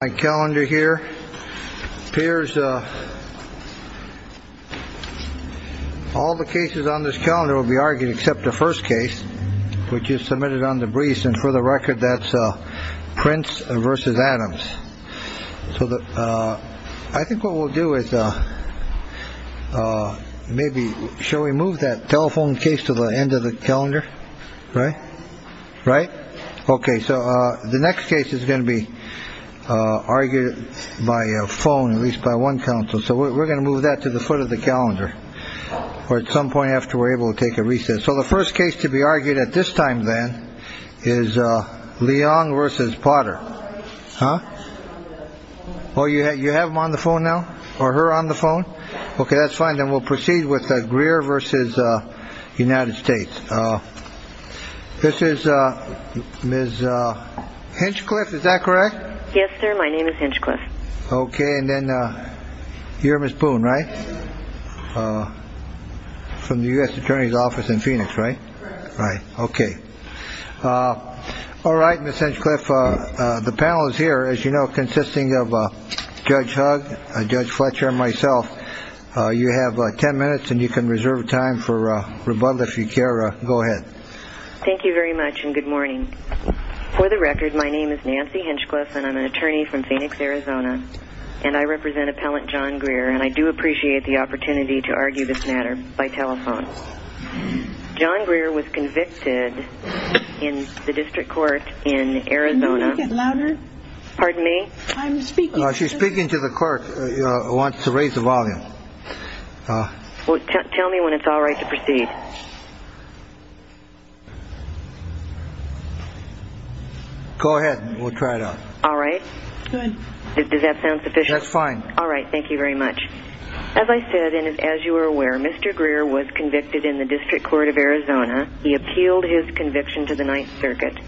My calendar here appears. All the cases on this calendar will be argued except the first case, which is submitted on the briefs. And for the record, that's Prince versus Adams. So I think what we'll do is maybe shall we move that telephone case to the end of the calendar? Right. Right. OK. So the next case is going to be argued by a phone, at least by one council. So we're going to move that to the foot of the calendar or at some point after we're able to take a recess. So the first case to be argued at this time, then, is Leon versus Potter. Oh, yeah. You have him on the phone now or her on the phone. OK, that's fine. Then we'll proceed with Greer versus United States. This is Ms. Hinchcliffe. Is that correct? Yes, sir. My name is Hinchcliffe. OK. And then you're Miss Boone, right? From the U.S. attorney's office in Phoenix. Right. Right. OK. All right. Miss Hinchcliffe, the panel is here, as you know, consisting of Judge Hugg, Judge Fletcher, myself. You have 10 minutes and you can reserve time for rebuttal if you care. Go ahead. Thank you very much. And good morning. For the record, my name is Nancy Hinchcliffe and I'm an attorney from Phoenix, Arizona. And I represent appellant John Greer. And I do appreciate the opportunity to argue this matter by telephone. John Greer was convicted in the district court in Arizona. Louder. Pardon me. I'm speaking. She's speaking to the court. I want to raise the volume. Tell me when it's all right to proceed. Go ahead. We'll try it out. All right. Good. Does that sound sufficient? That's fine. All right. Thank you very much. As I said, and as you are aware, Mr. Greer was convicted in the district court of Arizona. He appealed his conviction to the Ninth Circuit.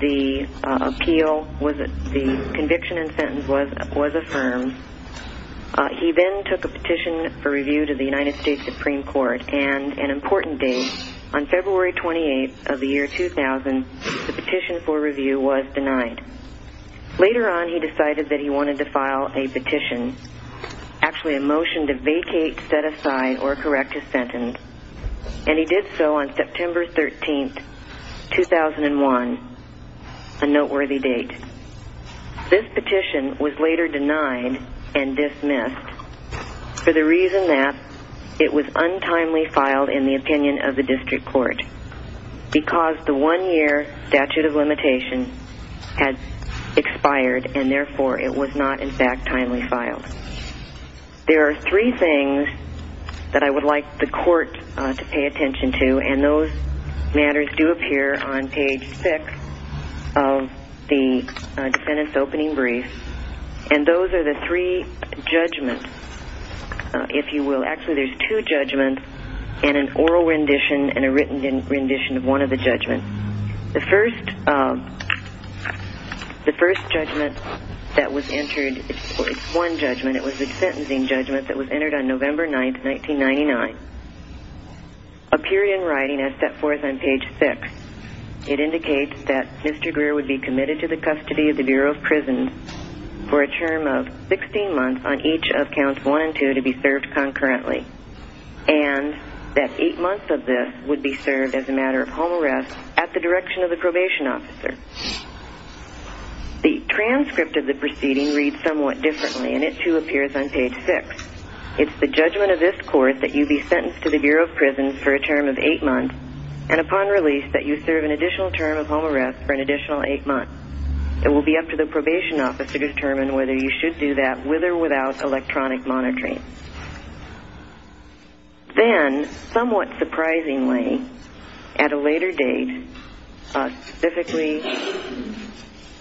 The appeal was the conviction and sentence was was affirmed. He then took a petition for review to the United States Supreme Court and an important date on February 28th of the year 2000, the petition for review was denied. Later on, he decided that he wanted to file a petition, actually a motion to vacate, set aside or correct his sentence. And he did so on September 13th, 2001. A noteworthy date. This petition was later denied and dismissed for the reason that it was untimely filed in the opinion of the district court because the one year statute of limitation had expired and therefore it was not, in fact, timely filed. There are three things that I would like the court to pay attention to. And those matters do appear on page six of the defendant's opening brief. And those are the three judgments, if you will. Actually, there's two judgments and an oral rendition and a written rendition of one of the judgments. The first judgment that was entered, it's one judgment, it was a sentencing judgment that was entered on November 9th, 1999. Appeared in writing as set forth on page six. It indicates that Mr. Greer would be committed to the custody of the Bureau of Prisons for a term of 16 months on each of counts one and two to be served concurrently. And that eight months of this would be served as a matter of home arrest at the direction of the probation officer. The transcript of the proceeding reads somewhat differently and it too appears on page six. It's the judgment of this court that you be sentenced to the Bureau of Prisons for a term of eight months and upon release that you serve an additional term of home arrest for an additional eight months. It will be up to the probation officer to determine whether you should do that with or without electronic monitoring. Then, somewhat surprisingly, at a later date, specifically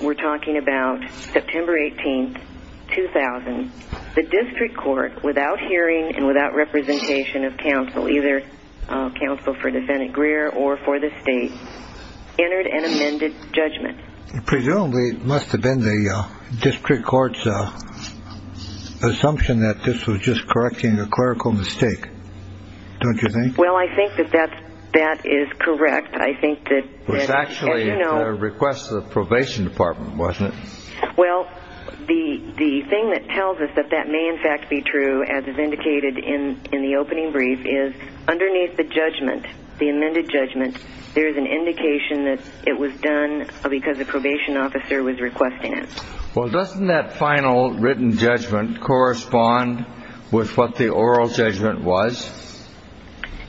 we're talking about September 18th, 2000, the district court, without hearing and without representation of counsel, either counsel for defendant Greer or for the state, entered an amended judgment. Presumably it must have been the district court's assumption that this was just correcting a clerical mistake. Don't you think? Well, I think that that is correct. I think that. It was actually a request of the probation department, wasn't it? Well, the thing that tells us that that may in fact be true, as is indicated in the opening brief, is underneath the judgment, the amended judgment, there is an indication that it was done because the probation officer was requesting it. Well, doesn't that final written judgment correspond with what the oral judgment was?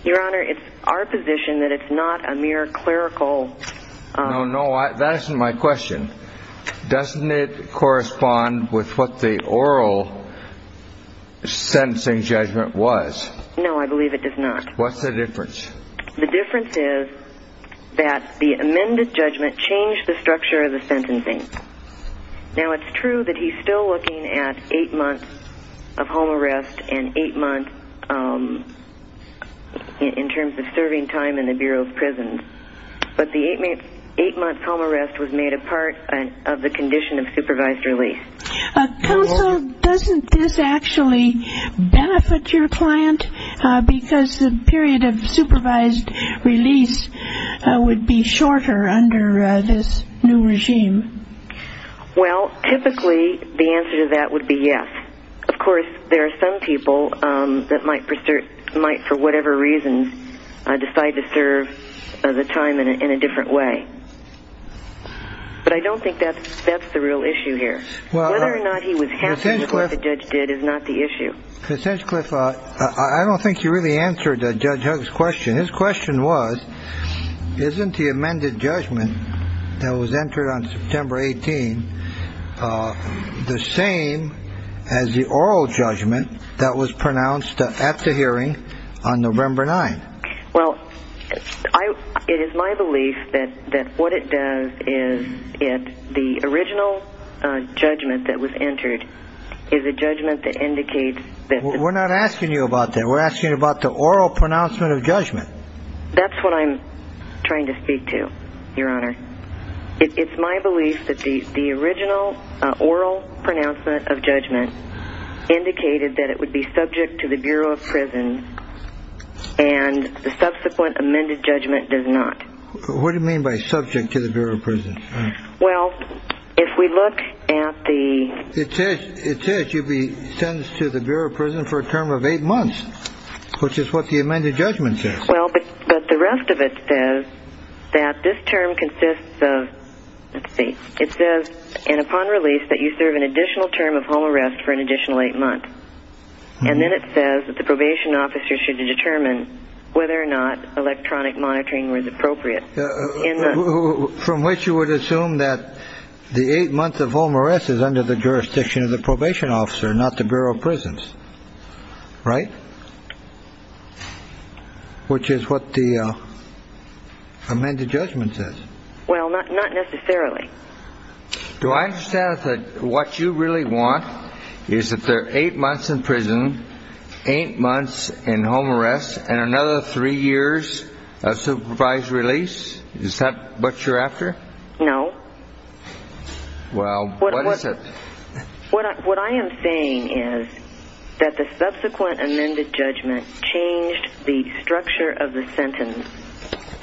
Your Honor, it's our position that it's not a mere clerical... No, no, that isn't my question. Doesn't it correspond with what the oral sentencing judgment was? No, I believe it does not. What's the difference? The difference is that the amended judgment changed the structure of the sentencing. Now, it's true that he's still looking at eight months of home arrest and eight months in terms of serving time in the Bureau of Prisons, but the eight months home arrest was made a part of the condition of supervised release. Counsel, doesn't this actually benefit your client because the period of supervised release would be shorter under this new regime? Well, typically the answer to that would be yes. Of course, there are some people that might, for whatever reason, decide to serve the time in a different way. But I don't think that's the real issue here. Whether or not he was happy with what the judge did is not the issue. Ms. Hinchcliffe, I don't think you really answered Judge Hugg's question. His question was, isn't the amended judgment that was entered on September 18 the same as the oral judgment that was pronounced at the hearing on November 9? Well, it is my belief that what it does is the original judgment that was entered is a judgment that indicates that... We're not asking you about that. We're asking you about the oral pronouncement of judgment. That's what I'm trying to speak to, Your Honor. It's my belief that the original oral pronouncement of judgment indicated that it would be subject to the Bureau of Prisons and the subsequent amended judgment does not. What do you mean by subject to the Bureau of Prisons? Well, if we look at the... It says you'd be sentenced to the Bureau of Prisons for a term of eight months, which is what the amended judgment says. Well, but the rest of it says that this term consists of, let's see, it says, and upon release, that you serve an additional term of home arrest for an additional eight months. And then it says that the probation officer should determine whether or not electronic monitoring was appropriate. From which you would assume that the eight months of home arrest is under the jurisdiction of the probation officer, not the Bureau of Prisons, right? Which is what the amended judgment says. Well, not necessarily. Do I understand that what you really want is that they're eight months in prison, eight months in home arrest, and another three years of supervised release? Is that what you're after? No. Well, what is it? What I am saying is that the subsequent amended judgment changed the structure of the sentence.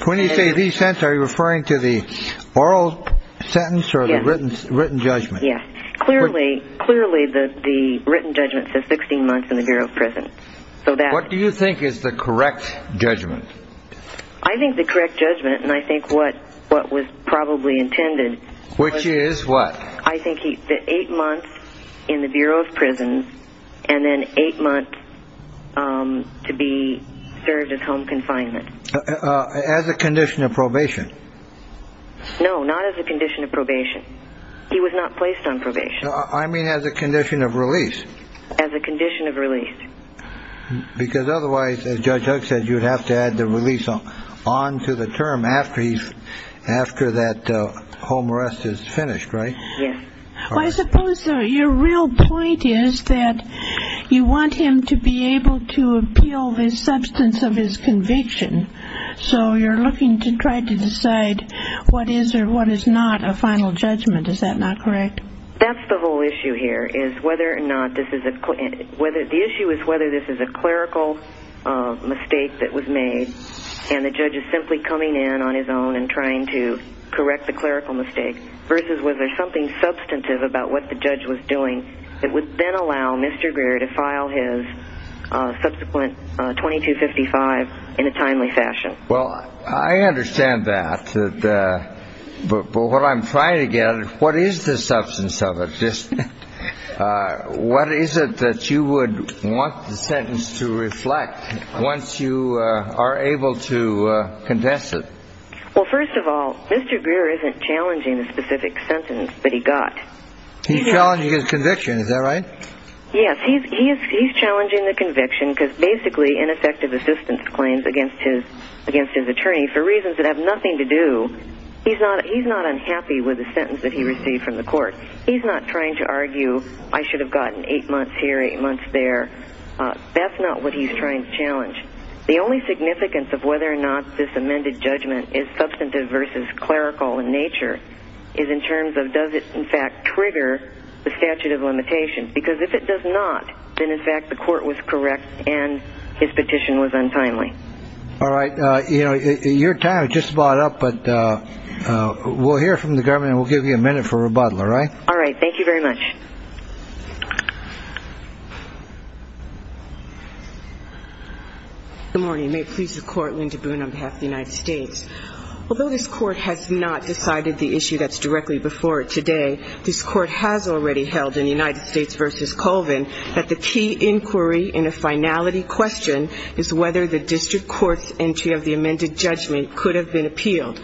When you say the sentence, are you referring to the oral sentence or the written judgment? Yes. Clearly, the written judgment says 16 months in the Bureau of Prisons. What do you think is the correct judgment? I think the correct judgment, and I think what was probably intended... Which is what? I think the eight months in the Bureau of Prisons and then eight months to be served as home confinement. As a condition of probation? No, not as a condition of probation. He was not placed on probation. I mean as a condition of release. As a condition of release. Because otherwise, as Judge Huck said, you'd have to add the release on to the term after that home arrest is finished, right? Yes. Well, I suppose your real point is that you want him to be able to appeal the substance of his conviction. So you're looking to try to decide what is or what is not a final judgment. Is that not correct? That's the whole issue here is whether or not this is a... The issue is whether this is a clerical mistake that was made and the judge is simply coming in on his own and trying to correct the clerical mistake versus whether there's something substantive about what the judge was doing that would then allow Mr. Greer to file his subsequent 2255 in a timely fashion. Well, I understand that. But what I'm trying to get at, what is the substance of it? What is it that you would want the sentence to reflect once you are able to condense it? Well, first of all, Mr. Greer isn't challenging the specific sentence that he got. He's challenging his conviction. Is that right? Yes. He's challenging the conviction because basically ineffective assistance claims against his attorney for reasons that have nothing to do... He's not unhappy with the sentence that he received from the court. He's not trying to argue, I should have gotten eight months here, eight months there. That's not what he's trying to challenge. The only significance of whether or not this amended judgment is substantive versus clerical in nature is in terms of does it in fact trigger the statute of limitations. Because if it does not, then in fact the court was correct and his petition was untimely. All right. Your time is just about up. But we'll hear from the government and we'll give you a minute for rebuttal. All right? All right. Thank you very much. Good morning. May it please the Court, Linda Boone on behalf of the United States. Although this court has not decided the issue that's directly before it today, this court has already held in United States v. Colvin that the key inquiry in a finality question is whether the district court's entry of the amended judgment could have been appealed.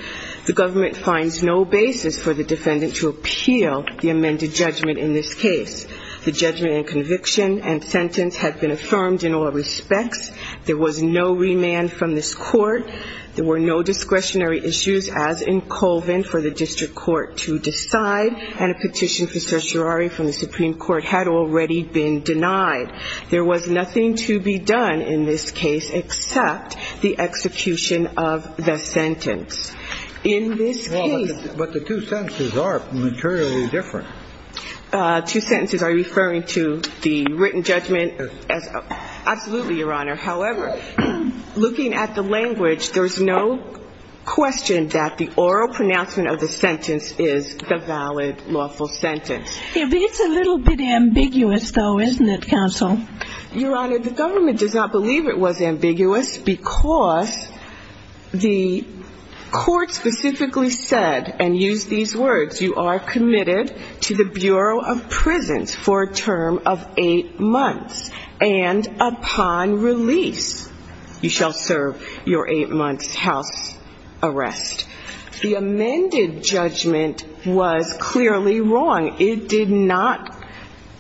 The government finds no basis for the defendant to appeal the amended judgment in this case. The judgment and conviction and sentence have been affirmed in all respects. There was no remand from this court. There were no discretionary issues as in Colvin for the district court to decide. And a petition for certiorari from the Supreme Court had already been denied. There was nothing to be done in this case except the execution of the sentence. In this case But the two sentences are materially different. Two sentences are referring to the written judgment. Absolutely, Your Honor. However, looking at the language, there's no question that the oral pronouncement of the sentence is the valid lawful sentence. It's a little bit ambiguous, though, isn't it, counsel? Your Honor, the government does not believe it was ambiguous because the court specifically said and used these words, you are committed to the Bureau of Prisons for a term of eight months. And upon release, you shall serve your eight months' house arrest. The amended judgment was clearly wrong. It did not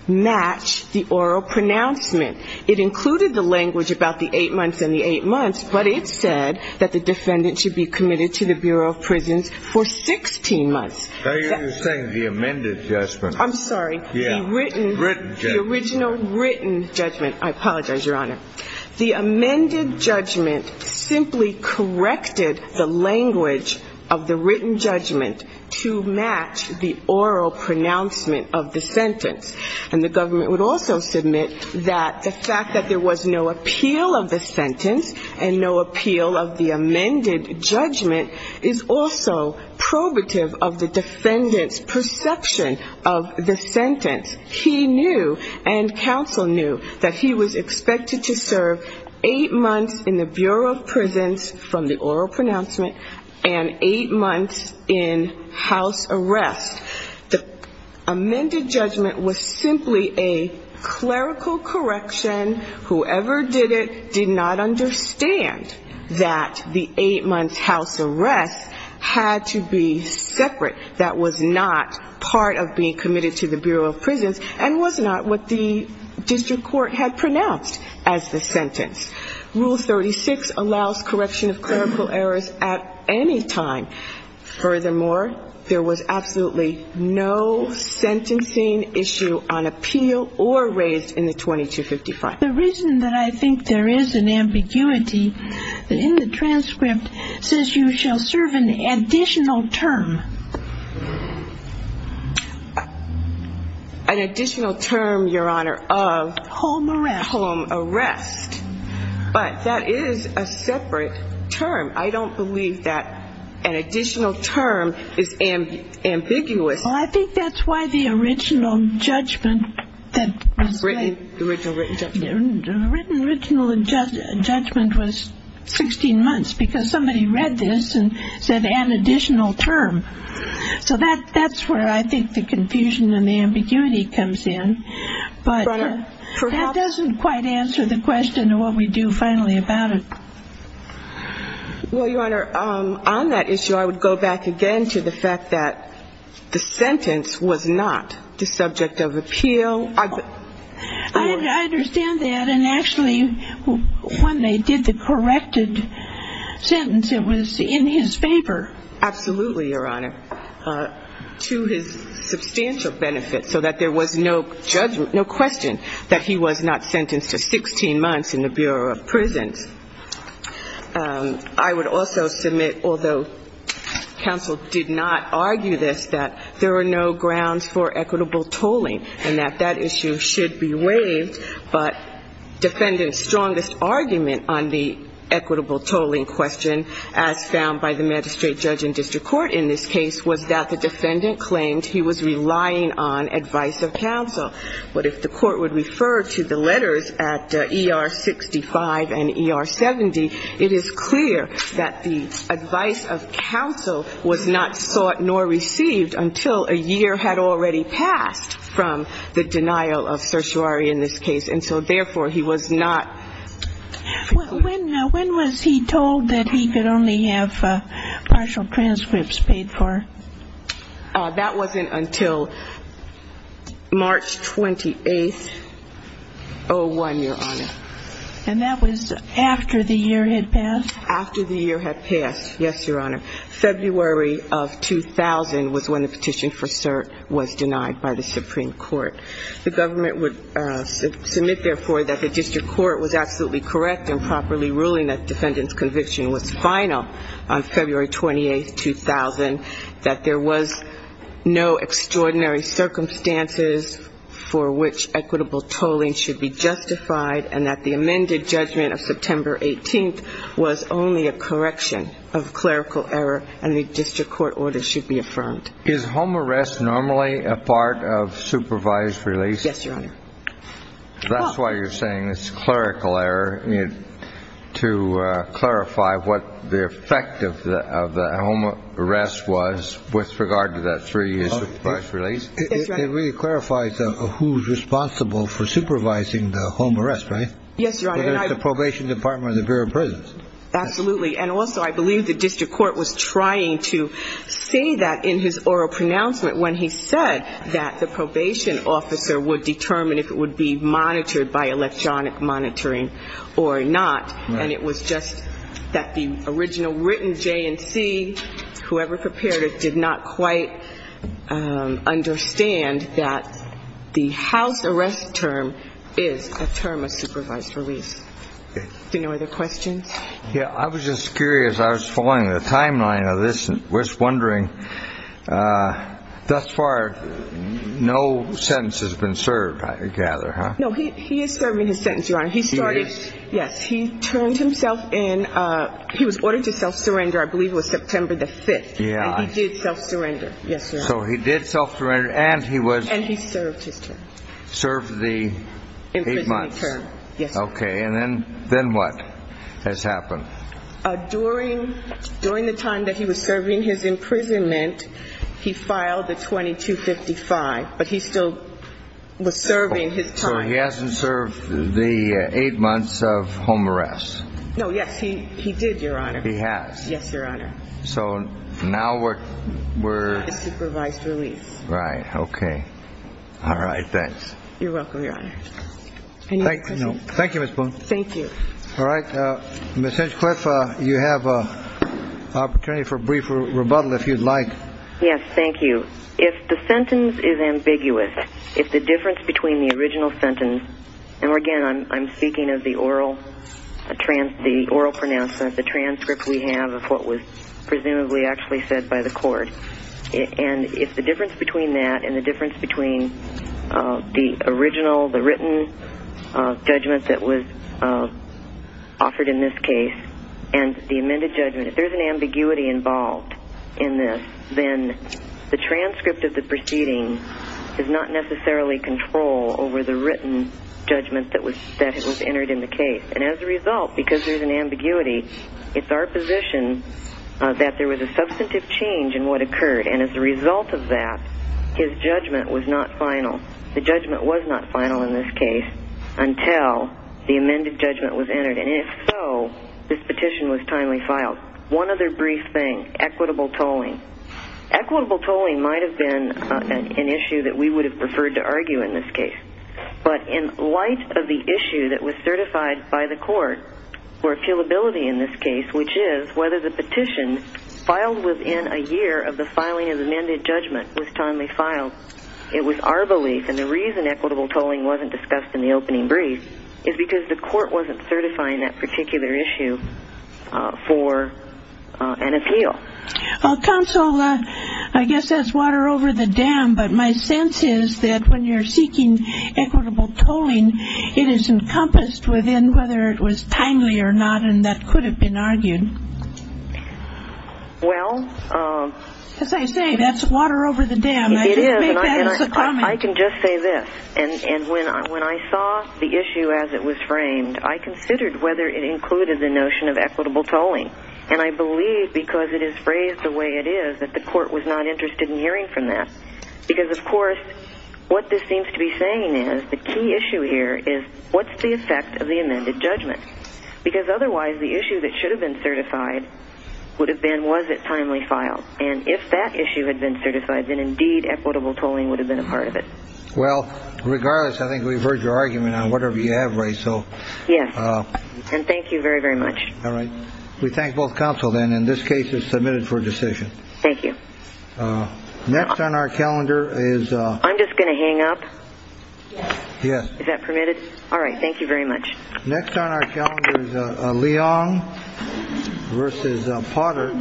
match the oral pronouncement. It included the language about the eight months and the eight months, but it said that the defendant should be committed to the Bureau of Prisons for 16 months. Are you saying the amended judgment? I'm sorry. Yeah. Written judgment. The original written judgment. I apologize, Your Honor. The amended judgment simply corrected the language of the written judgment to match the oral pronouncement of the sentence. And the government would also submit that the fact that there was no appeal of the sentence and no appeal of the amended judgment is also probative of the defendant's perception of the sentence. He knew and counsel knew that he was expected to serve eight months in the Bureau of Prisons from the oral pronouncement and eight months in house arrest. The amended judgment was simply a clerical correction. Whoever did it did not understand that the eight months' house arrest had to be separate. That was not part of being committed to the Bureau of Prisons and was not what the district court had pronounced as the sentence. Rule 36 allows correction of clerical errors at any time. Furthermore, there was absolutely no sentencing issue on appeal or raised in the 2255. The reason that I think there is an ambiguity in the transcript says you shall serve an additional term. An additional term, Your Honor, of? Home arrest. Home arrest. But that is a separate term. I don't believe that an additional term is ambiguous. Well, I think that's why the original judgment that was written. The original written judgment. The written original judgment was 16 months because somebody read this and said an additional term. So that's where I think the confusion and the ambiguity comes in. But that doesn't quite answer the question of what we do finally about it. Well, Your Honor, on that issue, I would go back again to the fact that the sentence was not the subject of appeal. I understand that. And actually, when they did the corrected sentence, it was in his favor. Absolutely, Your Honor. To his substantial benefit so that there was no judgment, that he was not sentenced to 16 months in the Bureau of Prisons. I would also submit, although counsel did not argue this, that there were no grounds for equitable tolling and that that issue should be waived. But defendant's strongest argument on the equitable tolling question, as found by the magistrate judge in district court in this case, was that the defendant claimed he was relying on advice of counsel. But if the court would refer to the letters at ER 65 and ER 70, it is clear that the advice of counsel was not sought nor received until a year had already passed from the denial of certiorari in this case. And so, therefore, he was not. When was he told that he could only have partial transcripts paid for? That wasn't until March 28, 01, Your Honor. And that was after the year had passed? After the year had passed, yes, Your Honor. February of 2000 was when the petition for cert was denied by the Supreme Court. The government would submit, therefore, that the district court was absolutely correct in properly ruling that defendant's conviction was final on February 28, 2000. That there was no extraordinary circumstances for which equitable tolling should be justified. And that the amended judgment of September 18th was only a correction of clerical error and the district court order should be affirmed. Is home arrest normally a part of supervised release? Yes, Your Honor. That's why you're saying it's clerical error. To clarify what the effect of the home arrest was with regard to that three years of supervised release. It really clarifies who's responsible for supervising the home arrest, right? Yes, Your Honor. The probation department or the Bureau of Prisons. Absolutely. And also, I believe the district court was trying to say that in his oral pronouncement that the probation officer would determine if it would be monitored by electronic monitoring or not. And it was just that the original written J&C, whoever prepared it, did not quite understand that the house arrest term is a term of supervised release. Okay. Do you have any other questions? Yeah, I was just curious. I was following the timeline of this and was wondering, thus far, no sentence has been served, I gather, huh? No, he is serving his sentence, Your Honor. He is? Yes. He turned himself in. He was ordered to self-surrender, I believe it was September the 5th. Yeah. And he did self-surrender. Yes, Your Honor. So he did self-surrender and he was? And he served his term. Served the eight months. Yes, Your Honor. Okay. And then what has happened? During the time that he was serving his imprisonment, he filed the 2255, but he still was serving his time. So he hasn't served the eight months of home arrest. No, yes, he did, Your Honor. He has? Yes, Your Honor. So now we're? It's supervised release. Right, okay. All right, thanks. You're welcome, Your Honor. Any other questions? No. Thank you, Ms. Boone. Thank you. All right. Ms. Hinchcliffe, you have an opportunity for a brief rebuttal, if you'd like. Yes, thank you. If the sentence is ambiguous, if the difference between the original sentence, and again, I'm speaking of the oral pronouncement, the transcript we have of what was presumably actually said by the court, and if the difference between that and the difference between the original, the written judgment that was offered in this case, and the amended judgment, if there's an ambiguity involved in this, then the transcript of the proceeding is not necessarily control over the written judgment that was entered in the case. And as a result, because there's an ambiguity, it's our position that there was a substantive change in what occurred. And as a result of that, his judgment was not final. The judgment was not final in this case until the amended judgment was entered. And if so, this petition was timely filed. One other brief thing, equitable tolling. Equitable tolling might have been an issue that we would have preferred to argue in this case. But in light of the issue that was certified by the court for appealability in this case, which is whether the petition filed within a year of the filing of the amended judgment was timely filed, it was our belief, and the reason equitable tolling wasn't discussed in the opening brief, is because the court wasn't certifying that particular issue for an appeal. Well, counsel, I guess that's water over the dam. But my sense is that when you're seeking equitable tolling, it is encompassed within whether it was timely or not, and that could have been argued. Well. As I say, that's water over the dam. It is, and I can just say this. And when I saw the issue as it was framed, I considered whether it included the notion of equitable tolling. And I believe, because it is phrased the way it is, that the court was not interested in hearing from that. Because, of course, what this seems to be saying is the key issue here is what's the effect of the amended judgment? Because otherwise the issue that should have been certified would have been was it timely filed. And if that issue had been certified, then indeed equitable tolling would have been a part of it. Well, regardless, I think we've heard your argument on whatever you have raised. Yes, and thank you very, very much. All right. We thank both counsel, then, and this case is submitted for decision. Thank you. Next on our calendar is. I'm just going to hang up. Yes. Is that permitted? All right. Thank you very much. Next on our calendar is Leon versus Potter,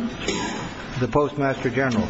the postmaster general.